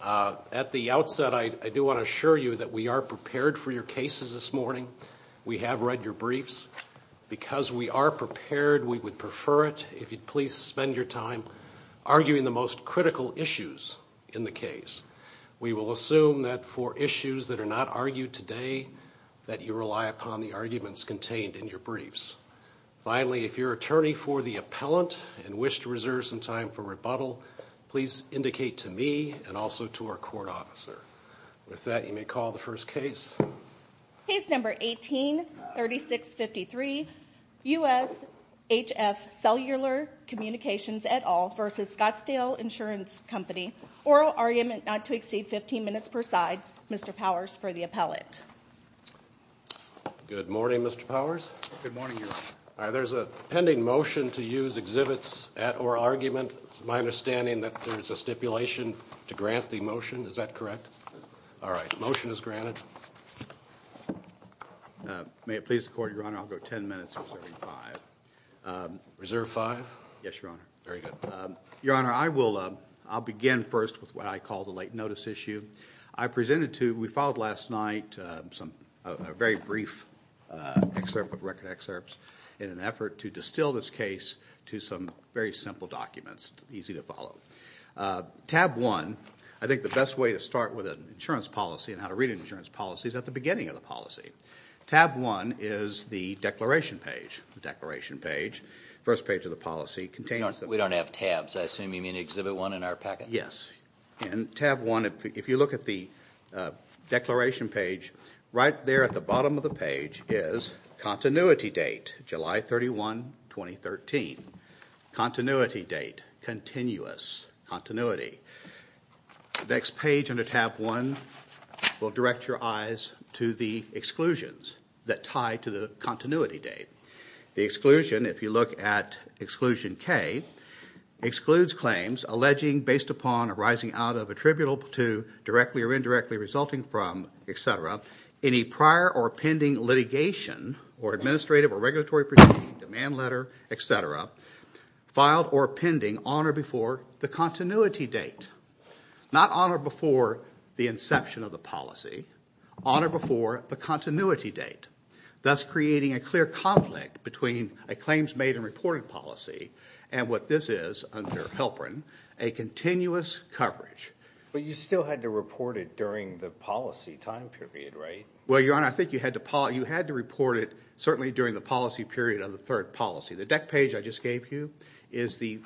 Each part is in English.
At the outset, I do want to assure you that we are prepared for your cases this morning. We have read your briefs. Because we are prepared, we would prefer it if you'd please spend your time arguing the most critical issues in the case. We will assume that for issues that are not argued today, that you rely upon the arguments contained in your briefs. Finally, if you're an attorney for the appellant and wish to reserve some time for rebuttal, please indicate to me and also to our court officer. With that, you may call the first case. Case number 18-3653, US HF Cellular Communications et al. v. Scottsdale Insurance Company. Oral argument not to exceed 15 minutes per side. Mr. Powers for the appellant. Good morning, Mr. Powers. Good morning, Your Honor. There's a pending motion to use exhibits at oral argument. It's my understanding that there's a stipulation to grant the motion. Is that correct? All right. Motion is granted. May it please the court, Your Honor, I'll go 10 minutes reserving five. Reserve five? Yes, Your Honor. Very good. Your Honor, I will begin first with what I call the late notice issue. I'll call this case to some very simple documents, easy to follow. Tab one, I think the best way to start with an insurance policy and how to read an insurance policy is at the beginning of the policy. Tab one is the declaration page. The declaration page, first page of the policy contains the- We don't have tabs. I assume you mean exhibit one in our packet? Yes. In tab one, if you look at the declaration page, right there at the bottom of the page is continuity date, July 31, 2013. Continuity date, continuous continuity. Next page under tab one will direct your eyes to the exclusions that tie to the continuity date. The exclusion, if you look at exclusion K, excludes claims alleging based upon arising out of attributable to, directly or indirectly resulting from, et cetera, any prior or pending litigation or administrative or regulatory procedure, demand letter, et cetera, filed or pending on or before the continuity date. Not on or before the inception of the policy, on or before the continuity date, thus creating a clear conflict between a claims made and reported policy and what this is under HILPRIN, a continuous coverage. But you still had to report it during the policy time period, right? Well, Your Honor, I think you had to report it certainly during the policy period of the third policy. The deck page I just gave you is the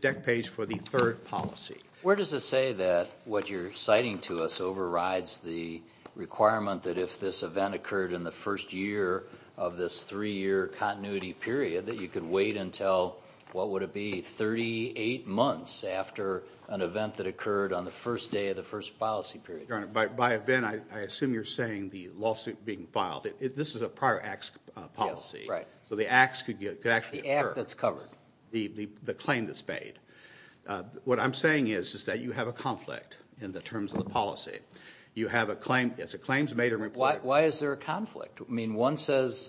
deck page for the third policy. Where does it say that what you're citing to us overrides the requirement that if this event occurred in the first year of this three-year continuity period, that you could wait until, what would it be, 38 months after an event that occurred on the first day of the first policy period? Your Honor, by event, I assume you're saying the lawsuit being filed. This is a prior acts policy. Yes, right. So the acts could actually occur. The act that's covered. The claim that's made. What I'm saying is that you have a conflict in the terms of the policy. You have a claim, it's a claims made and reported. Why is there a conflict? I mean, one says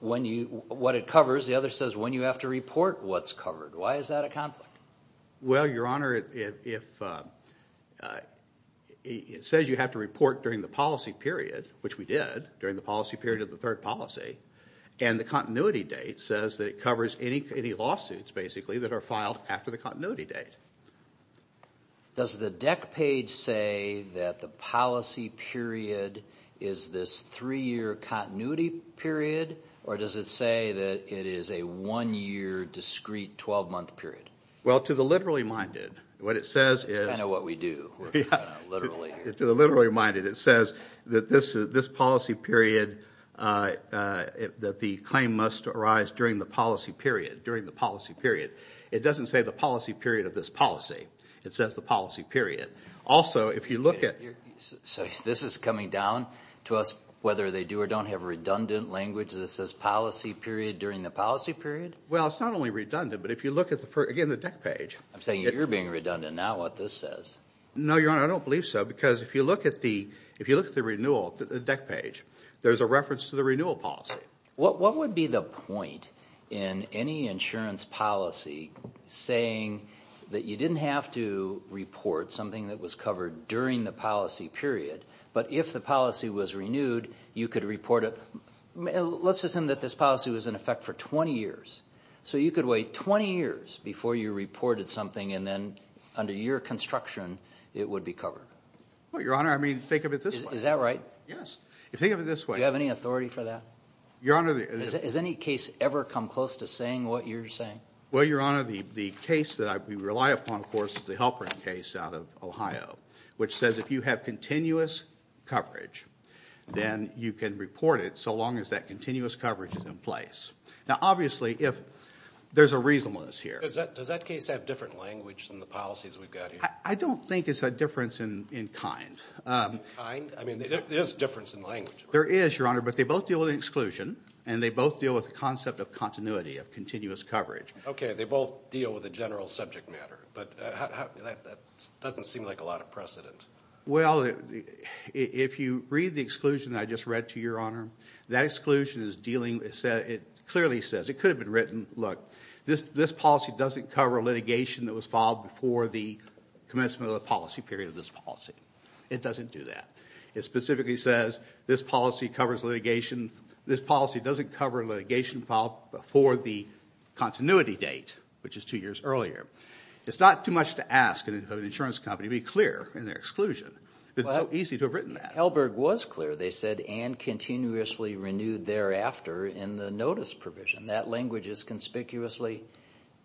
what it covers, the other says when you have to report what's covered. Why is that a conflict? Well, Your Honor, it says you have to report during the policy period, which we did during the policy period of the third policy, and the continuity date says that it covers any lawsuits basically that are filed after the continuity date. Does the deck page say that the policy period is this three-year continuity period, or does it say that it is a one-year discreet 12-month period? Well, to the literally minded, what it says is... It's kind of what we do. We're kind of literally... To the literally minded, it says that this policy period, that the claim must arise during the policy period, during the policy period. It doesn't say the policy period of this policy. It says the policy period. Also, if you look at... This is coming down to us, whether they do or don't have redundant language that says policy period during the policy period? Well, it's not only redundant, but if you look at, again, the deck page... I'm saying you're being redundant now, what this says. No, Your Honor, I don't believe so, because if you look at the renewal, the deck page, there's a reference to the renewal policy. What would be the point in any insurance policy saying that you didn't have to report something that was covered during the policy period, but if the policy was renewed, you could report it... Let's assume that this policy was in effect for 20 years. So you could wait 20 years before you reported something, and then under your construction, it would be covered. Well, Your Honor, I mean, think of it this way. Is that right? Yes. Think of it this way. Do you have any authority for that? Your Honor... Has any case ever come close to saying what you're saying? Well, Your Honor, the case that we rely upon, of course, is the Halperin case out of Ohio, which says if you have continuous coverage, then you can report it so long as that continuous coverage is in place. Now, obviously, there's a reasonableness here. Does that case have different language than the policies we've got here? I don't think it's a difference in kind. Kind? I mean, there is a difference in language. There is, Your Honor, but they both deal with exclusion, and they both deal with the concept of continuity, of continuous coverage. Okay, they both deal with a general subject matter, but that doesn't seem like a lot of precedent. Well, if you read the exclusion I just read to Your Honor, that exclusion is dealing... It clearly says... It could have been written, look, this policy doesn't cover litigation that was filed before the commencement of the policy period of this policy. It doesn't do that. It specifically says this policy covers litigation... This policy doesn't cover litigation filed before the continuity date, which is two years earlier. It's not too much to ask of an insurance company to be clear in their exclusion, but it's so easy to have written that. Well, Helberg was clear. They said, and continuously renewed thereafter in the notice provision. That language is conspicuously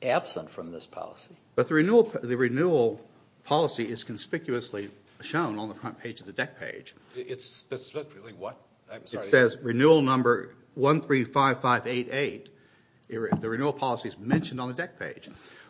absent from this policy. But the renewal policy is conspicuously shown on the front page of the DEC page. It's specifically what? I'm sorry. It says renewal number 135588. The renewal policy is mentioned on the DEC page.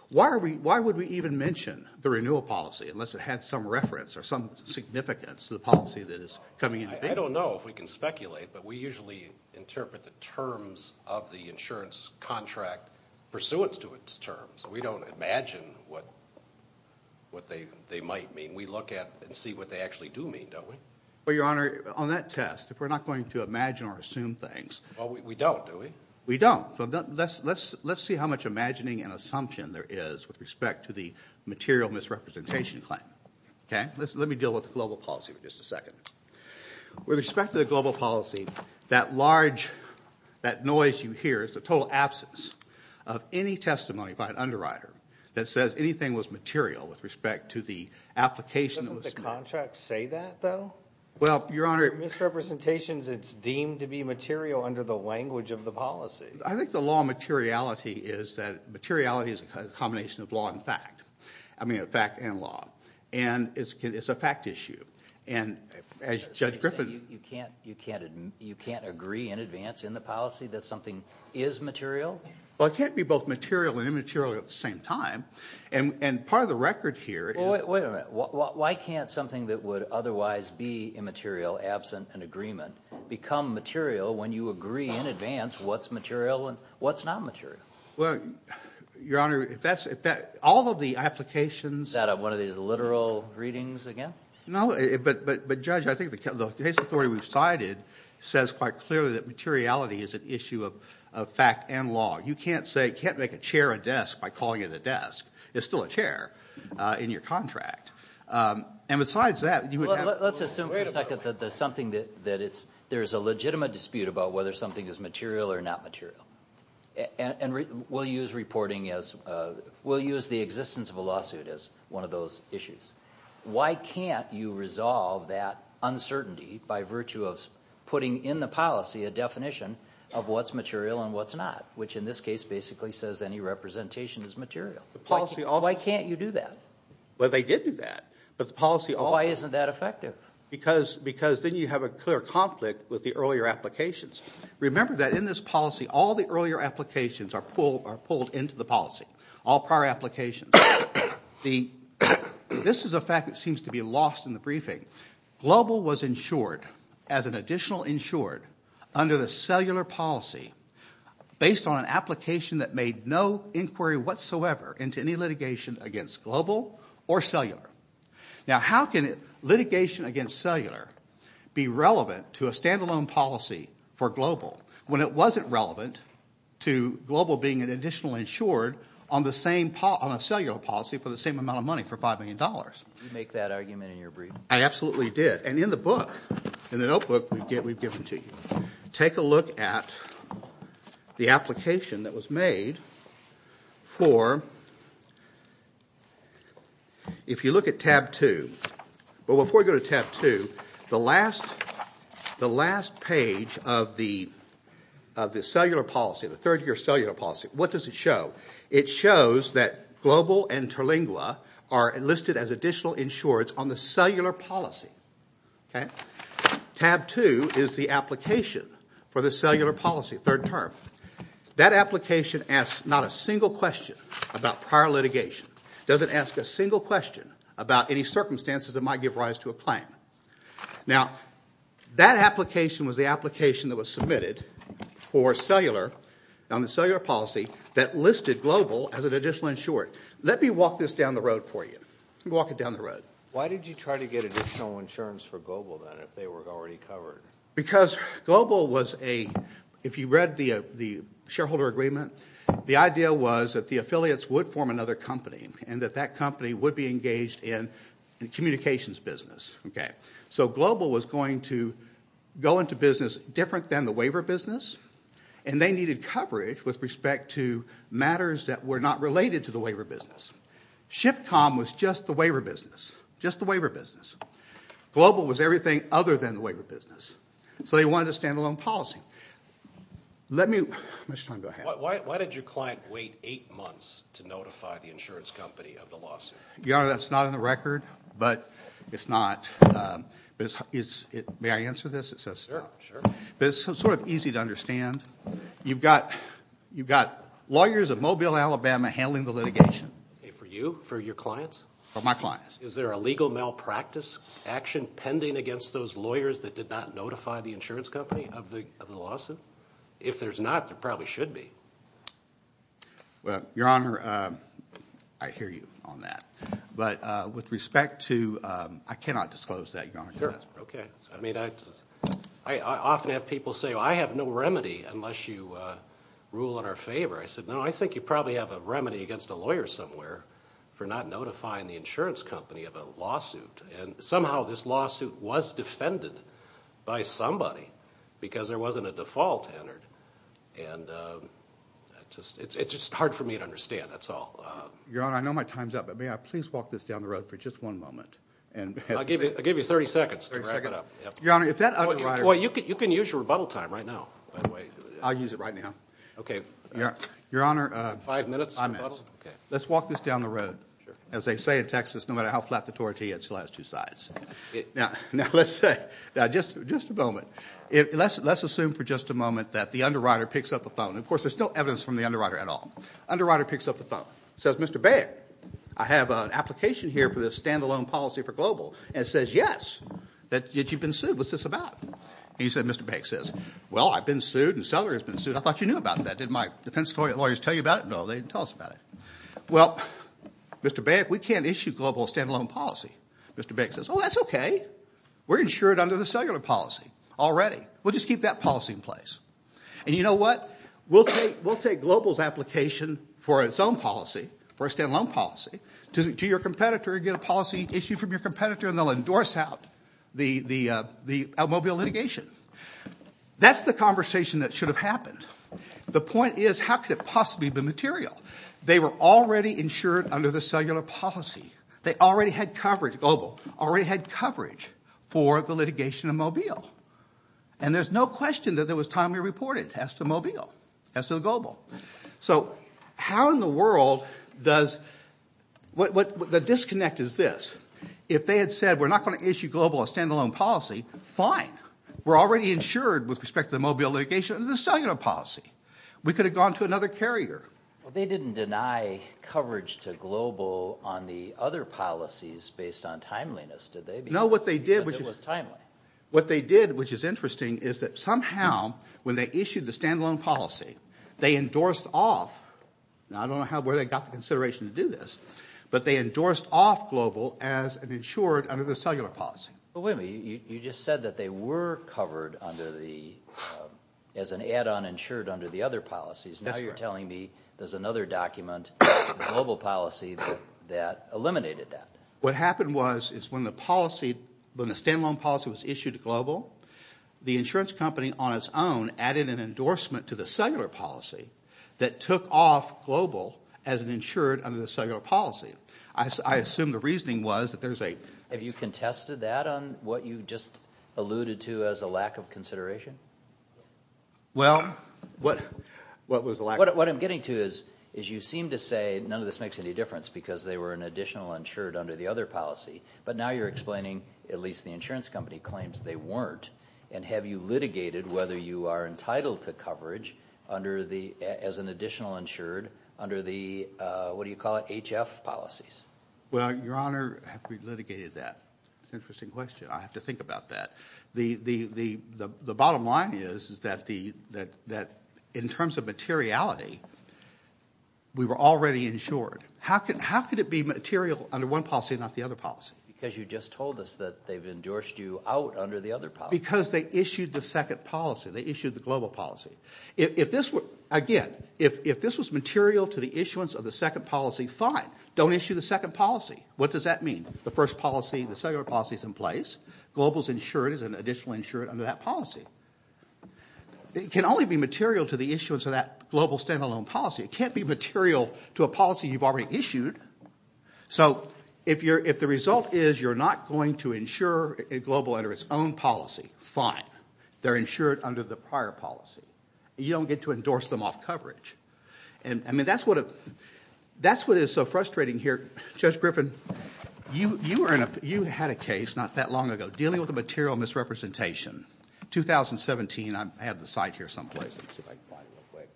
Why would we even mention the renewal policy unless it had some reference or some significance to the policy that is coming into being? I don't know if we can speculate, but we usually interpret the terms of the insurance contract pursuant to its terms. So we don't imagine what they might mean. We look at and see what they actually do mean, don't we? Well, Your Honor, on that test, if we're not going to imagine or assume things... We don't, do we? We don't. So let's see how much imagining and assumption there is with respect to the material misrepresentation claim. Okay? Let me deal with the global policy for just a second. With respect to the global policy, that large, that noise you hear is the total absence of any testimony by an underwriter that says anything was material with respect to the application. Doesn't the contract say that, though? Well, Your Honor... For misrepresentations, it's deemed to be material under the language of the policy. I think the law of materiality is that materiality is a combination of law and fact. I mean, fact and law. And it's a fact issue. And as Judge Griffin... You can't agree in advance in the policy that something is material? Well, it can't be both material and immaterial at the same time. And part of the record here is... Wait a minute. Why can't something that would otherwise be immaterial, absent an agreement, become material when you agree in advance what's material and what's not material? Well, Your Honor, if that's... All of the applications... Is that one of these literal readings again? No, but Judge, I think the case authority we've cited says quite clearly that materiality is an issue of fact and law. You can't say... Can't make a chair a desk by calling it a desk. It's still a chair in your contract. And besides that, you would have... Let's assume for a second that there's something that... There's a legitimate dispute about whether something is material or not material. And we'll use reporting as... We'll use the existence of a lawsuit as one of those issues. Why can't you resolve that uncertainty by virtue of putting in the policy a definition of what's material and what's not, which in this case basically says any representation is material? The policy also... Why can't you do that? Well, they did do that. But the policy also... Why isn't that effective? Because then you have a clear conflict with the earlier applications. Remember that in this policy, all the earlier applications are pulled into the policy. All prior applications. The... This is a fact that seems to be lost in the briefing. Global was insured as an additional insured under the cellular policy based on an application that made no inquiry whatsoever into any litigation against global or cellular. Now, how can litigation against cellular be relevant to a standalone policy for global when it wasn't relevant to global being an additional insured on a cellular policy for the same amount of money, for $5 million? You make that argument in your briefing. I absolutely did. And in the book, in the notebook we've given to you, take a look at the application that was made for... But before we go to tab two, the last page of the cellular policy, the third year cellular policy, what does it show? It shows that global and Terlingua are listed as additional insureds on the cellular policy. Tab two is the application for the cellular policy, third term. That application asks not a single question about prior litigation. Doesn't ask a single question about any circumstances that might give rise to a claim. Now, that application was the application that was submitted for cellular on the cellular policy that listed global as an additional insured. Let me walk this down the road for you. Let me walk it down the road. Why did you try to get additional insurance for global then if they were already covered? Because global was a... If you read the shareholder agreement, the idea was that the affiliates would form another company and that that company would be engaged in communications business. So global was going to go into business different than the waiver business, and they needed coverage with respect to matters that were not related to the waiver business. Shipcom was just the waiver business, just the waiver business. Global was everything other than the waiver business. So they wanted a standalone policy. Let me... How much time do I have? Why did your client wait eight months to notify the insurance company of the lawsuit? Your Honor, that's not on the record, but it's not. May I answer this? Sure, sure. But it's sort of easy to understand. You've got lawyers at Mobile, Alabama handling the litigation. For you? For your clients? For my clients. Is there a legal malpractice action pending against those lawyers that did not notify the insurance company of the lawsuit? If there's not, there probably should be. Well, Your Honor, I hear you on that. But with respect to... I cannot disclose that, Your Honor. Sure, okay. I mean, I often have people say, I have no remedy unless you rule in our favor. I said, no, I think you probably have a remedy against a lawyer somewhere for not notifying the insurance company of a lawsuit. And somehow this lawsuit was defended by somebody because there wasn't a default entered. And it's just hard for me to understand, that's all. Your Honor, I know my time's up, but may I please walk this down the road for just one moment? I'll give you 30 seconds to wrap it up. Your Honor, if that other writer... You can use your rebuttal time right now, by the way. I'll use it right now. Okay. Your Honor... Five minutes? Five minutes. Let's walk this down the road. Sure. As they say in Texas, no matter how flat the tortilla, it still has two sides. Now, let's say, just a moment, let's assume for just a moment that the underwriter picks up the phone. Of course, there's still evidence from the underwriter at all. Underwriter picks up the phone. Says, Mr. Bayek, I have an application here for this standalone policy for global. And it says, yes, that you've been sued. What's this about? And he said, Mr. Bayek says, well, I've been sued and Seller has been sued. I thought you knew about that. Did my defense lawyers tell you about it? No, they didn't tell us about it. Well, Mr. Bayek, we can't issue global standalone policy. Mr. Bayek says, oh, that's okay. We're insured under the cellular policy already. We'll just keep that policy in place. And you know what? We'll take global's application for its own policy, for a standalone policy, to your competitor, get a policy issued from your competitor, and they'll endorse out the automobile litigation. That's the conversation that should have happened. The point is, how could it possibly be material? They were already insured under the cellular policy. They already had coverage, global, already had coverage for the litigation of mobile. And there's no question that there was timely reporting, as to mobile, as to global. So how in the world does, what the disconnect is this. If they had said, we're not going to issue global a standalone policy, fine. We're already insured with respect to the mobile litigation under the cellular policy. We could have gone to another carrier. Well, they didn't deny coverage to global on the other policies based on timeliness, did they? No, what they did, which is. Because it was timely. What they did, which is interesting, is that somehow, when they issued the standalone policy, they endorsed off, now I don't know how, where they got the consideration to do this, but they endorsed off global as an insured under the cellular policy. Well, wait a minute, you just said that they were covered under the, as an add-on insured under the other policies. Now you're telling me there's another document, global policy, that eliminated that. What happened was, is when the policy, when the standalone policy was issued to global, the insurance company on its own added an endorsement to the cellular policy that took off global as an insured under the cellular policy. I assume the reasoning was that there's a. Have you contested that on what you just alluded to as a lack of consideration? Well, what was the lack of. What I'm getting to is, is you seem to say none of this makes any difference because they were an additional insured under the other policy. But now you're explaining, at least the insurance company claims they weren't. And have you litigated whether you are entitled to coverage under the, as an additional insured, under the, what do you call it, HF policies? Well, your honor, have we litigated that? Interesting question, I have to think about that. The bottom line is, is that the, that in terms of materiality, we were already insured. How could it be material under one policy and not the other policy? Because you just told us that they've endorsed you out under the other policy. Because they issued the second policy. They issued the global policy. If this were, again, if this was material to the issuance of the second policy, fine. Don't issue the second policy. What does that mean? The first policy, the cellular policy is in place. Global's insured as an additional insured under that policy. It can only be material to the issuance of that global standalone policy. It can't be material to a policy you've already issued. So, if you're, if the result is you're not going to insure a global under its own policy, fine. They're insured under the prior policy. You don't get to endorse them off coverage. And, I mean, that's what, that's what is so frustrating here. Judge Griffin, you, you were in a, you had a case not that long ago, dealing with a material misrepresentation. 2017, I have the site here someplace, let's see if I can find it real quick.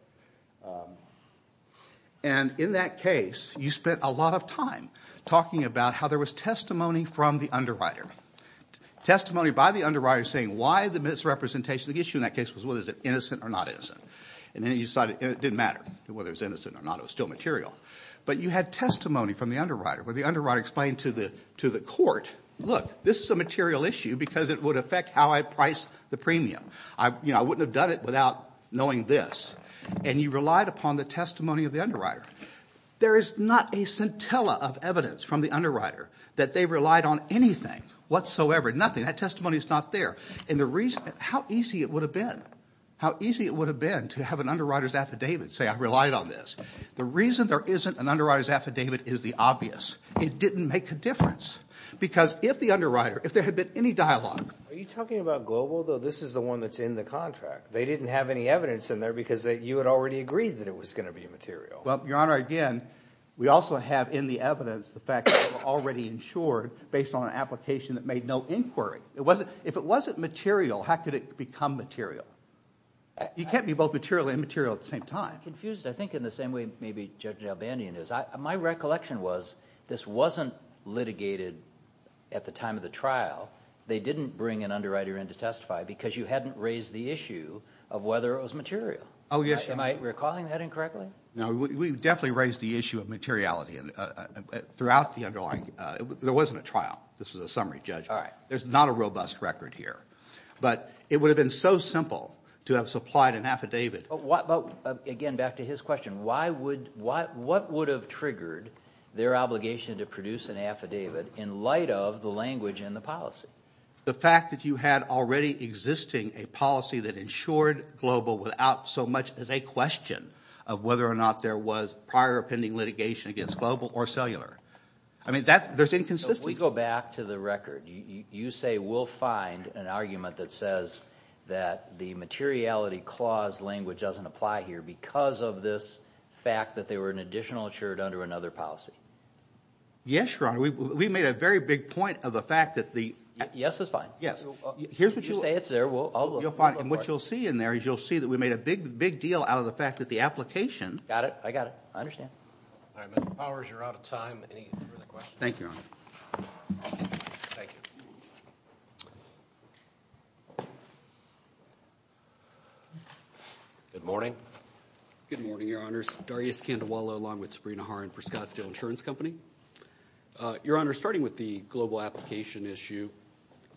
And in that case, you spent a lot of time talking about how there was testimony from the underwriter. Testimony by the underwriter saying why the misrepresentation, the issue in that case was whether it was innocent or not innocent. And then you decided, it didn't matter whether it was innocent or not, it was still material. But you had testimony from the underwriter, where the underwriter explained to the court, look, this is a material issue because it would affect how I price the premium. I, you know, I wouldn't have done it without knowing this. And you relied upon the testimony of the underwriter. There is not a scintilla of evidence from the underwriter that they relied on anything whatsoever. Nothing. That testimony is not there. And the reason, how easy it would have been. How easy it would have been to have an underwriter's affidavit say I relied on this. The reason there isn't an underwriter's affidavit is the obvious. It didn't make a difference. Because if the underwriter, if there had been any dialogue. Are you talking about Global, though? This is the one that's in the contract. They didn't have any evidence in there because you had already agreed that it was going to be material. Well, Your Honor, again, we also have in the evidence the fact that it was already insured based on an application that made no inquiry. It wasn't, if it wasn't material, how could it become material? You can't be both material and immaterial at the same time. I'm confused. I think in the same way maybe Judge Albandian is. My recollection was this wasn't litigated at the time of the trial. They didn't bring an underwriter in to testify because you hadn't raised the issue of whether it was material. Am I recalling that incorrectly? No, we definitely raised the issue of materiality throughout the underlying, there wasn't a trial. This was a summary, Judge. There's not a robust record here. But it would have been so simple to have supplied an affidavit. Again, back to his question, what would have triggered their obligation to produce an affidavit in light of the language and the policy? The fact that you had already existing a policy that insured global without so much as a question of whether or not there was prior pending litigation against global or cellular. I mean, there's inconsistency. If we go back to the record, you say we'll find an argument that says that the materiality clause language doesn't apply here because of this fact that they were an additional insured under another policy. Yes, Your Honor, we made a very big point of the fact that the- Yes, that's fine. Yes. Here's what you'll- You say it's there, I'll look. You'll find, and what you'll see in there is you'll see that we made a big, big deal out of the fact that the application- Got it, I got it. I understand. All right, Mr. Powers, you're out of time. Any further questions? Thank you, Your Honor. Thank you. Good morning. Good morning, Your Honors. Darius Candewalla along with Sabrina Horan for Scottsdale Insurance Company. Your Honor, starting with the global application issue,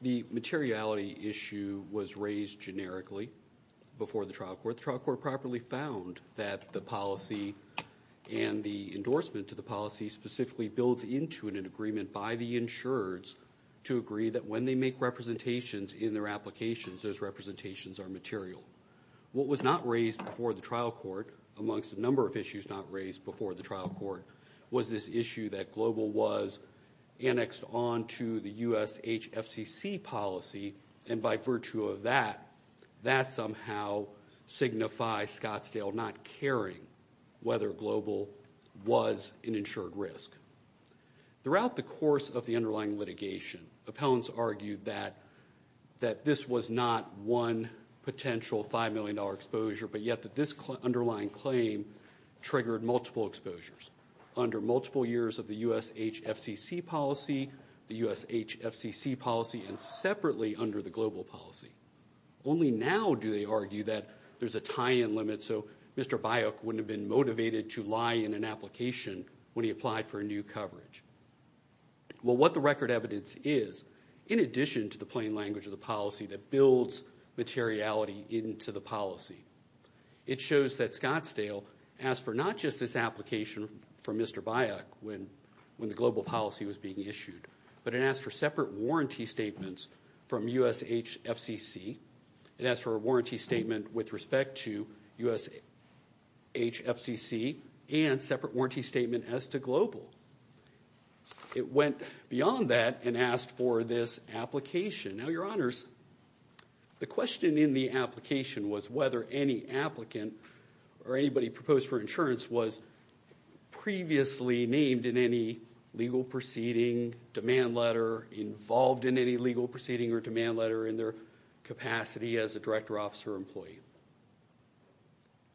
the materiality issue was raised generically before the trial court. The trial court properly found that the policy and the endorsement to the policy specifically builds into an agreement by the insurers to agree that when they make representations in their applications, those representations are material. What was not raised before the trial court, amongst a number of issues not raised before the trial court, was this issue that global was annexed on to the US HFCC policy. And by virtue of that, that somehow signifies Scottsdale not caring whether global was an insured risk. Throughout the course of the underlying litigation, appellants argued that this was not one potential $5 million exposure, but yet that this underlying claim triggered multiple exposures under multiple years of the US HFCC policy, the US HFCC policy, and separately under the global policy. Only now do they argue that there's a tie-in limit so Mr. Bayek wouldn't have been motivated to lie in an application when he applied for a new coverage. Well, what the record evidence is, in addition to the plain language of the policy that builds materiality into the policy, it shows that Scottsdale asked for not just this application from Mr. Bayek when the global policy was being issued, but it asked for separate warranty statements from US HFCC. It asked for a warranty statement with respect to US HFCC and separate warranty statement as to global. It went beyond that and asked for this application. Now, your honors, the question in the application was whether any applicant or anybody proposed for insurance was previously named in any legal proceeding, demand letter, involved in any legal proceeding or demand letter in their capacity as a director, officer, or employee.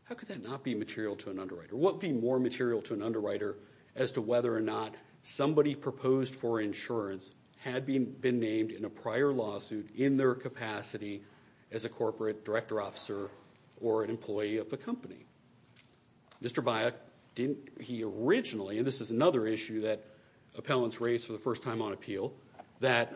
How could that not be material to an underwriter? What would be more material to an underwriter as to whether or not somebody proposed for insurance had been named in a prior lawsuit in their capacity as a corporate director, officer, or an employee of the company? Mr. Bayek, he originally, and this is another issue that appellants raised for the first time on appeal, that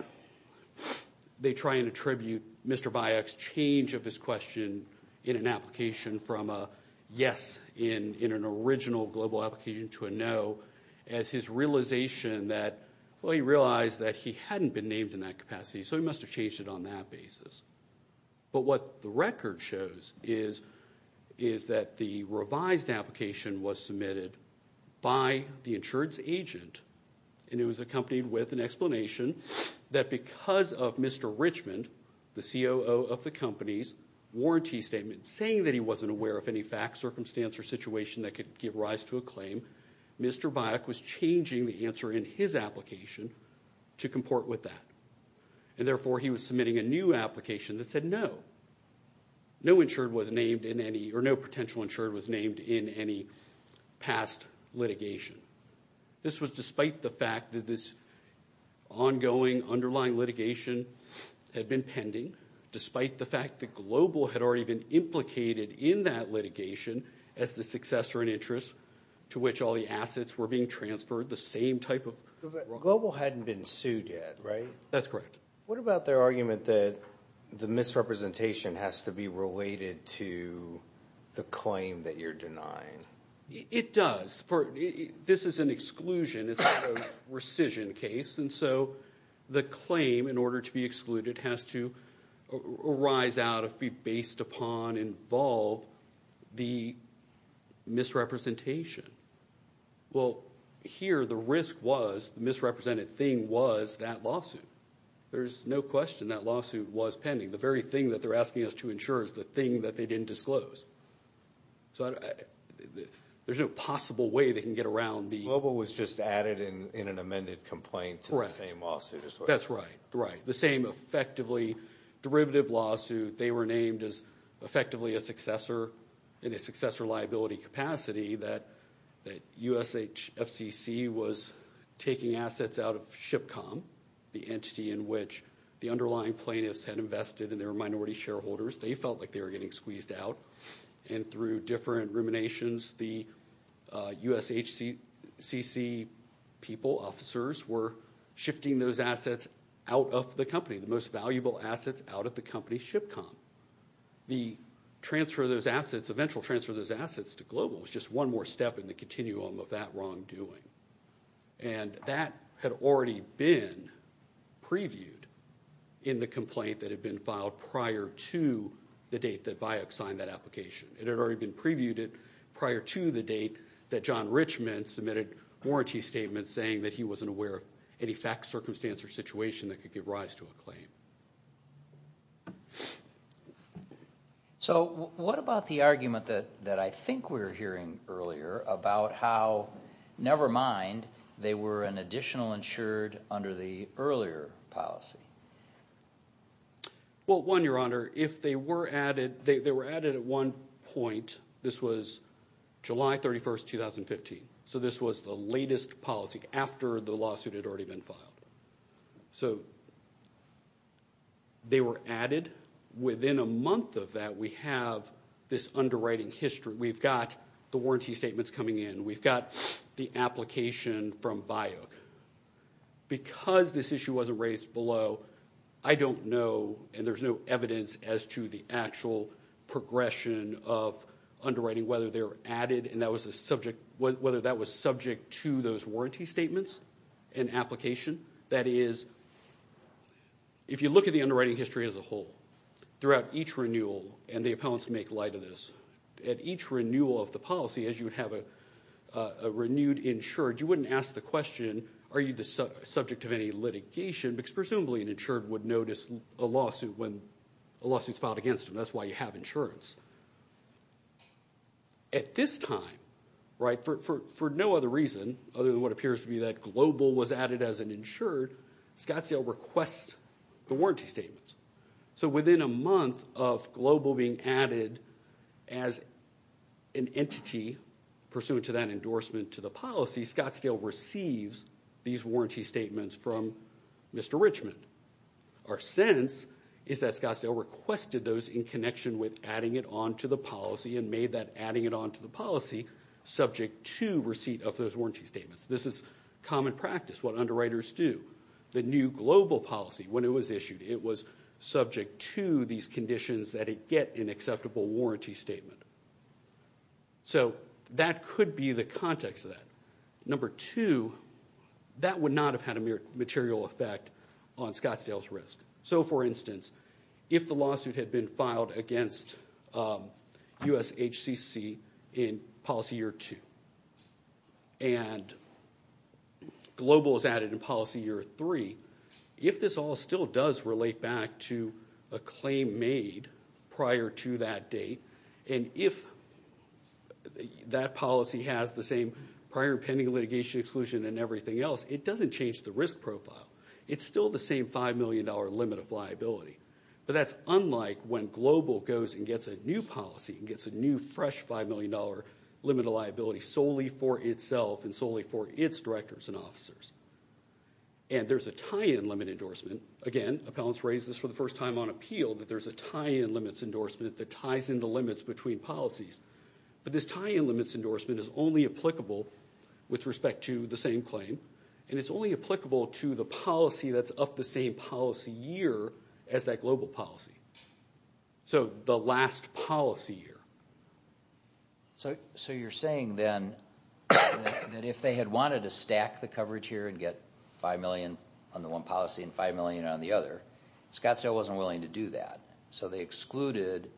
they try and attribute Mr. Bayek's change of his question in an application from a yes in an original global application to a no as his realization that, well, he realized that he hadn't been named in that capacity, so he must have changed it on that basis. But what the record shows is that the revised application was submitted by the insurance agent, and it was accompanied with an explanation that because of Mr. Richmond, the COO of the company's warranty statement, saying that he wasn't aware of any fact, circumstance, or situation that could give rise to a claim, Mr. Bayek was changing the answer in his application to comport with that. And therefore, he was submitting a new application that said no. No insured was named in any, or no potential insured was named in any past litigation. This was despite the fact that this ongoing, underlying litigation had been pending, despite the fact that global had already been implicated in that litigation as the successor in interest to which all the assets were being transferred, the same type of— Global hadn't been sued yet, right? That's correct. What about their argument that the misrepresentation has to be related to the claim that you're denying? It does. This is an exclusion. It's not a rescission case. And so the claim, in order to be excluded, has to arise out of, be based upon, involve the misrepresentation. Well, here, the risk was, the misrepresented thing was that lawsuit. There's no question that lawsuit was pending. The very thing that they're asking us to insure is the thing that they didn't disclose. So there's no possible way they can get around the— Global was just added in an amended complaint to the same lawsuit. That's right, right. The same effectively derivative lawsuit. They were named as effectively a successor in a successor liability capacity that USFCC was taking assets out of SHIPCOM, the entity in which the underlying plaintiffs had invested in their minority shareholders. They felt like they were getting squeezed out. And through different ruminations, the USFCC people, officers, were shifting those assets out of the company, the most valuable assets out of the company SHIPCOM. The transfer of those assets, eventual transfer of those assets to Global was just one more step in the continuum of that wrongdoing. And that had already been previewed in the complaint that had been filed prior to the date that BIOC signed that application. It had already been previewed prior to the date that John Richmond submitted warranty statements saying that he wasn't aware of any fact, circumstance, or situation that could give rise to a claim. So what about the argument that I think we were hearing earlier about how, never mind, they were an additional insured under the earlier policy? Well, one, Your Honor, if they were added, they were added at one point. This was July 31st, 2015. So this was the latest policy after the lawsuit had already been filed. So they were added. Within a month of that, we have this underwriting history. We've got the warranty statements coming in. We've got the application from BIOC. Because this issue wasn't raised below, I don't know, and there's no evidence as to the actual progression of underwriting, whether they were added, and whether that was subject to those warranty statements and application. That is, if you look at the underwriting history as a whole, throughout each renewal, and the appellants make light of this, at each renewal of the policy, as you would have a renewed insured, you wouldn't ask the question, are you the subject of any litigation, because presumably an insured would notice a lawsuit when a lawsuit's filed against them. That's why you have insurance. At this time, for no other reason other than what appears to be that Global was added as an insured, Scottsdale requests the warranty statements. So within a month of Global being added as an entity pursuant to that endorsement to the policy, Scottsdale receives these warranty statements from Mr. Richmond. Our sense is that Scottsdale requested those in connection with adding it on to the policy, and made that adding it on to the policy subject to receipt of those warranty statements. This is common practice, what underwriters do. The new Global policy, when it was issued, it was subject to these conditions that it get an acceptable warranty statement. So that could be the context of that. Number two, that would not have had a material effect on Scottsdale's risk. So for instance, if the lawsuit had been filed against USHCC in policy year two, and Global was added in policy year three, if this all still does relate back to a claim made prior to that date, and if that policy has the same prior pending litigation exclusion and everything else, it doesn't change the risk profile. It's still the same $5 million limit of liability. But that's unlike when Global goes and gets a new policy, and gets a new fresh $5 million limit of liability solely for itself and solely for its directors and officers. And there's a tie-in limit endorsement. Again, appellants raise this for the first time on appeal, that there's a tie-in limits endorsement that ties in the limits between policies. But this tie-in limits endorsement is only applicable with respect to the same claim, and it's only applicable to the policy that's of the same policy year as that Global policy. So the last policy year. So you're saying then that if they had wanted to stack the coverage here and get $5 million on the one policy and $5 million on the other, Scottsdale wasn't willing to do that. So they excluded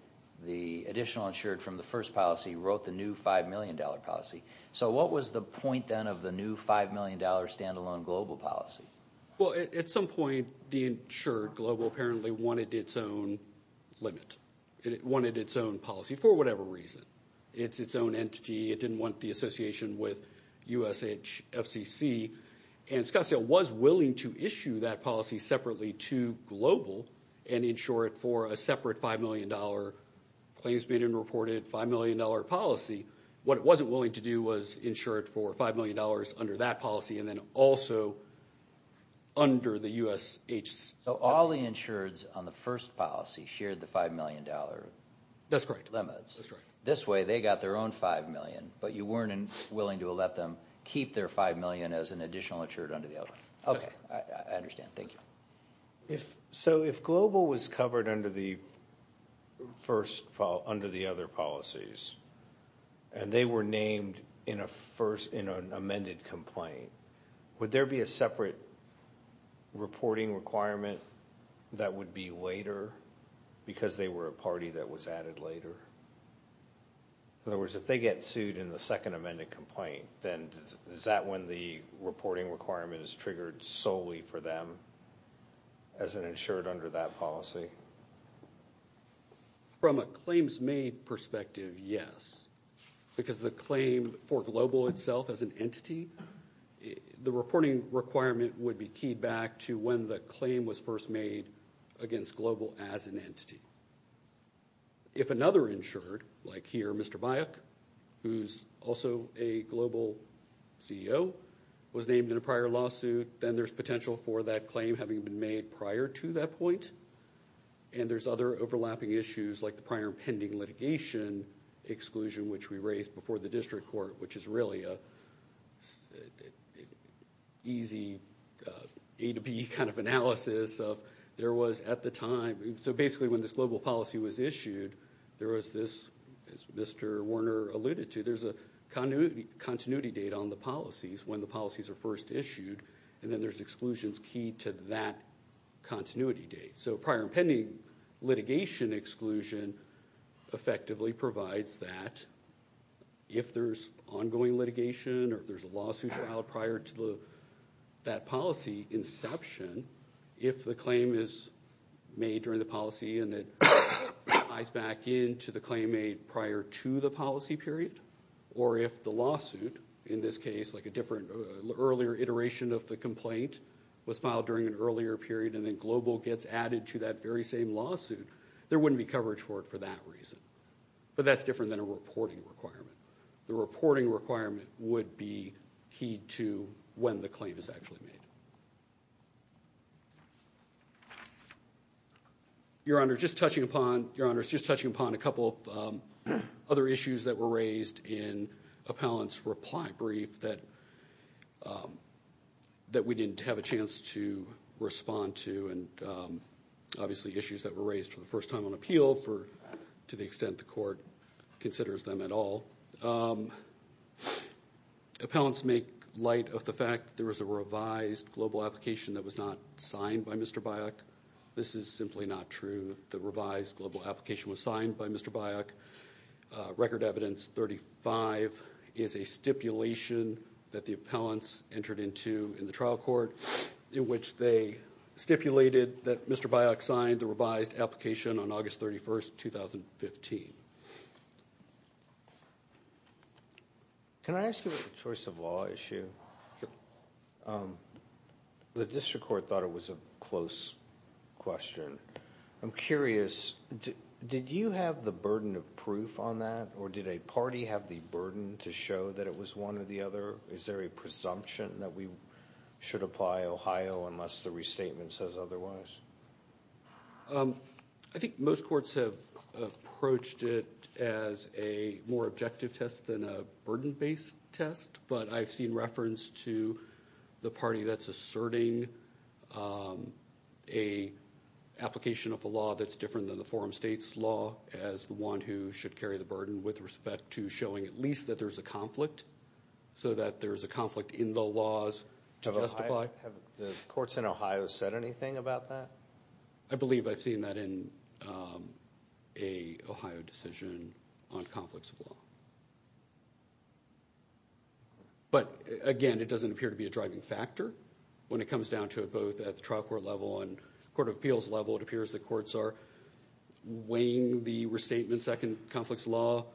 the additional insured from the first policy, wrote the new $5 million policy. So what was the point then of the new $5 million standalone Global policy? Well, at some point, the insured Global apparently wanted its own limit. It wanted its own policy for whatever reason. It's its own entity. It didn't want the association with USFCC. And Scottsdale was willing to issue that policy separately to Global and insure it for a separate $5 million claims-bidden reported $5 million policy. What it wasn't willing to do was insure it for $5 million under that policy, and then also under the USHC. So all the insureds on the first policy shared the $5 million limits. That's correct. This way, they got their own $5 million, but you weren't willing to let them keep their $5 million as an additional insured under the other. Okay, I understand. Thank you. So if Global was covered under the first, under the other policies, and they were named in a first, in an amended complaint, would there be a separate reporting requirement that would be later because they were a party that was added later? In other words, if they get sued in the second amended complaint, then is that when the reporting requirement is triggered solely for them as an insured under that policy? From a claims-made perspective, yes. Because the claim for Global itself as an entity, the reporting requirement would be keyed back to when the claim was first made against Global as an entity. If another insured, like here, Mr. Bayek, who's also a Global CEO, was named in a prior lawsuit, then there's potential for that claim having been made prior to that point. And there's other overlapping issues like the prior pending litigation exclusion, which we raised before the district court, which is really an easy A to B kind of analysis of there was at the time, so basically when this Global policy was issued, there was this, as Mr. Warner alluded to, there's a continuity date on the policies when the policies are first issued, and then there's exclusions keyed to that continuity date. So prior pending litigation exclusion effectively provides that if there's ongoing litigation or if there's a lawsuit filed prior to that policy inception, if the claim is made during the policy and it ties back into the claim made prior to the policy period, or if the lawsuit, in this case, like a different earlier iteration of the complaint, was filed during an earlier period and then Global gets added to that very same lawsuit, there wouldn't be coverage for it for that reason. But that's different than a reporting requirement. The reporting requirement would be keyed to when the claim is actually made. Your Honor, just touching upon a couple of other issues that were raised in appellant's reply brief that we didn't have a chance to respond to, and obviously issues that were raised for the first time on appeal to the extent the court considers them at all. Appellants make light of the fact there was a revised Global application that was not signed by Mr. Biok. This is simply not true. The revised Global application was signed by Mr. Biok. Record Evidence 35 is a stipulation that the appellants entered into in the trial court in which they stipulated that Mr. Biok signed the revised application on August 31st, 2015. Can I ask you about the choice of law issue? Sure. The district court thought it was a close question. I'm curious, did you have the burden of proof on that or did a party have the burden to show that it was one or the other? Is there a presumption that we should apply Ohio unless the restatement says otherwise? I think most courts have approached it as a more objective test than a burden-based test, but I've seen reference to the party that's asserting an application of a law that's different than the forum states law as the one who should carry the burden with respect to showing at least that there's a conflict, so that there's a conflict in the laws to justify. Have the courts in Ohio said anything about that? I believe I've seen that in an Ohio decision on conflicts of law. But again, it doesn't appear to be a driving factor when it comes down to it both at the trial court level and court of appeals level. It appears that courts are weighing the restatement second conflicts law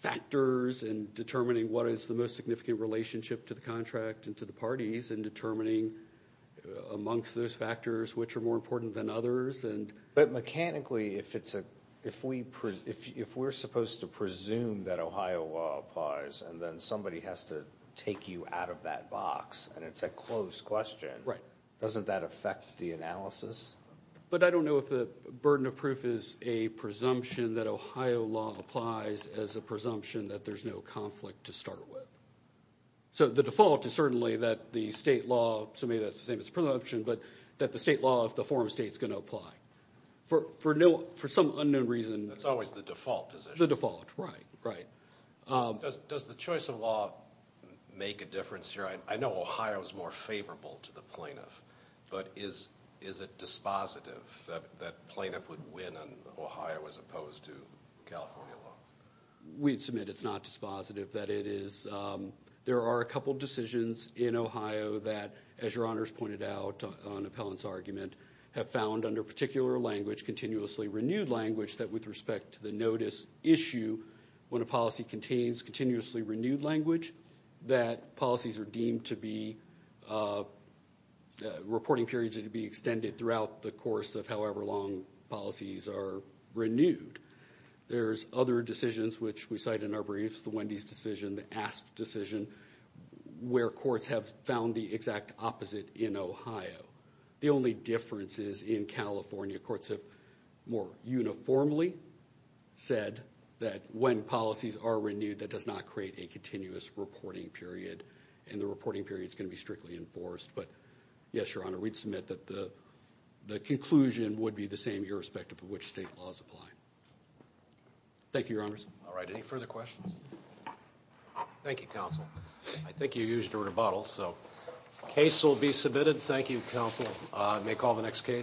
factors and determining what is the most significant relationship to the contract and to the parties and determining amongst those factors which are more important than others. But mechanically, if we're supposed to presume that Ohio law applies and then somebody has to take you out of that box and it's a close question, doesn't that affect the analysis? But I don't know if the burden of proof is a presumption that Ohio law applies as a presumption that there's no conflict to start with. So the default is certainly that the state law, so maybe that's the same as presumption, but that the state law of the forum state's going to apply. For some unknown reason. That's always the default position. The default, right, right. Does the choice of law make a difference here? I know Ohio's more favorable to the plaintiff. But is it dispositive that plaintiff would win on Ohio as opposed to California law? We'd submit it's not dispositive. There are a couple decisions in Ohio that, as your honors pointed out on appellant's argument, have found under particular language, continuously renewed language, that with respect to the notice issue, when a policy contains continuously renewed language, that policies are deemed to be, reporting periods are to be extended throughout the course of however long policies are renewed. There's other decisions which we cite in our briefs, the Wendy's decision, the Asp decision, where courts have found the exact opposite in Ohio. The only difference is in California, courts have more uniformly said that when policies are renewed, that does not create a continuous reporting period. And the reporting period is going to be strictly enforced. But yes, your honor, we'd submit that the conclusion would be the same, irrespective of which state laws apply. Thank you, your honors. All right, any further questions? Thank you, counsel. I think you used your rebuttal, so case will be submitted. Thank you, counsel. May call the next case.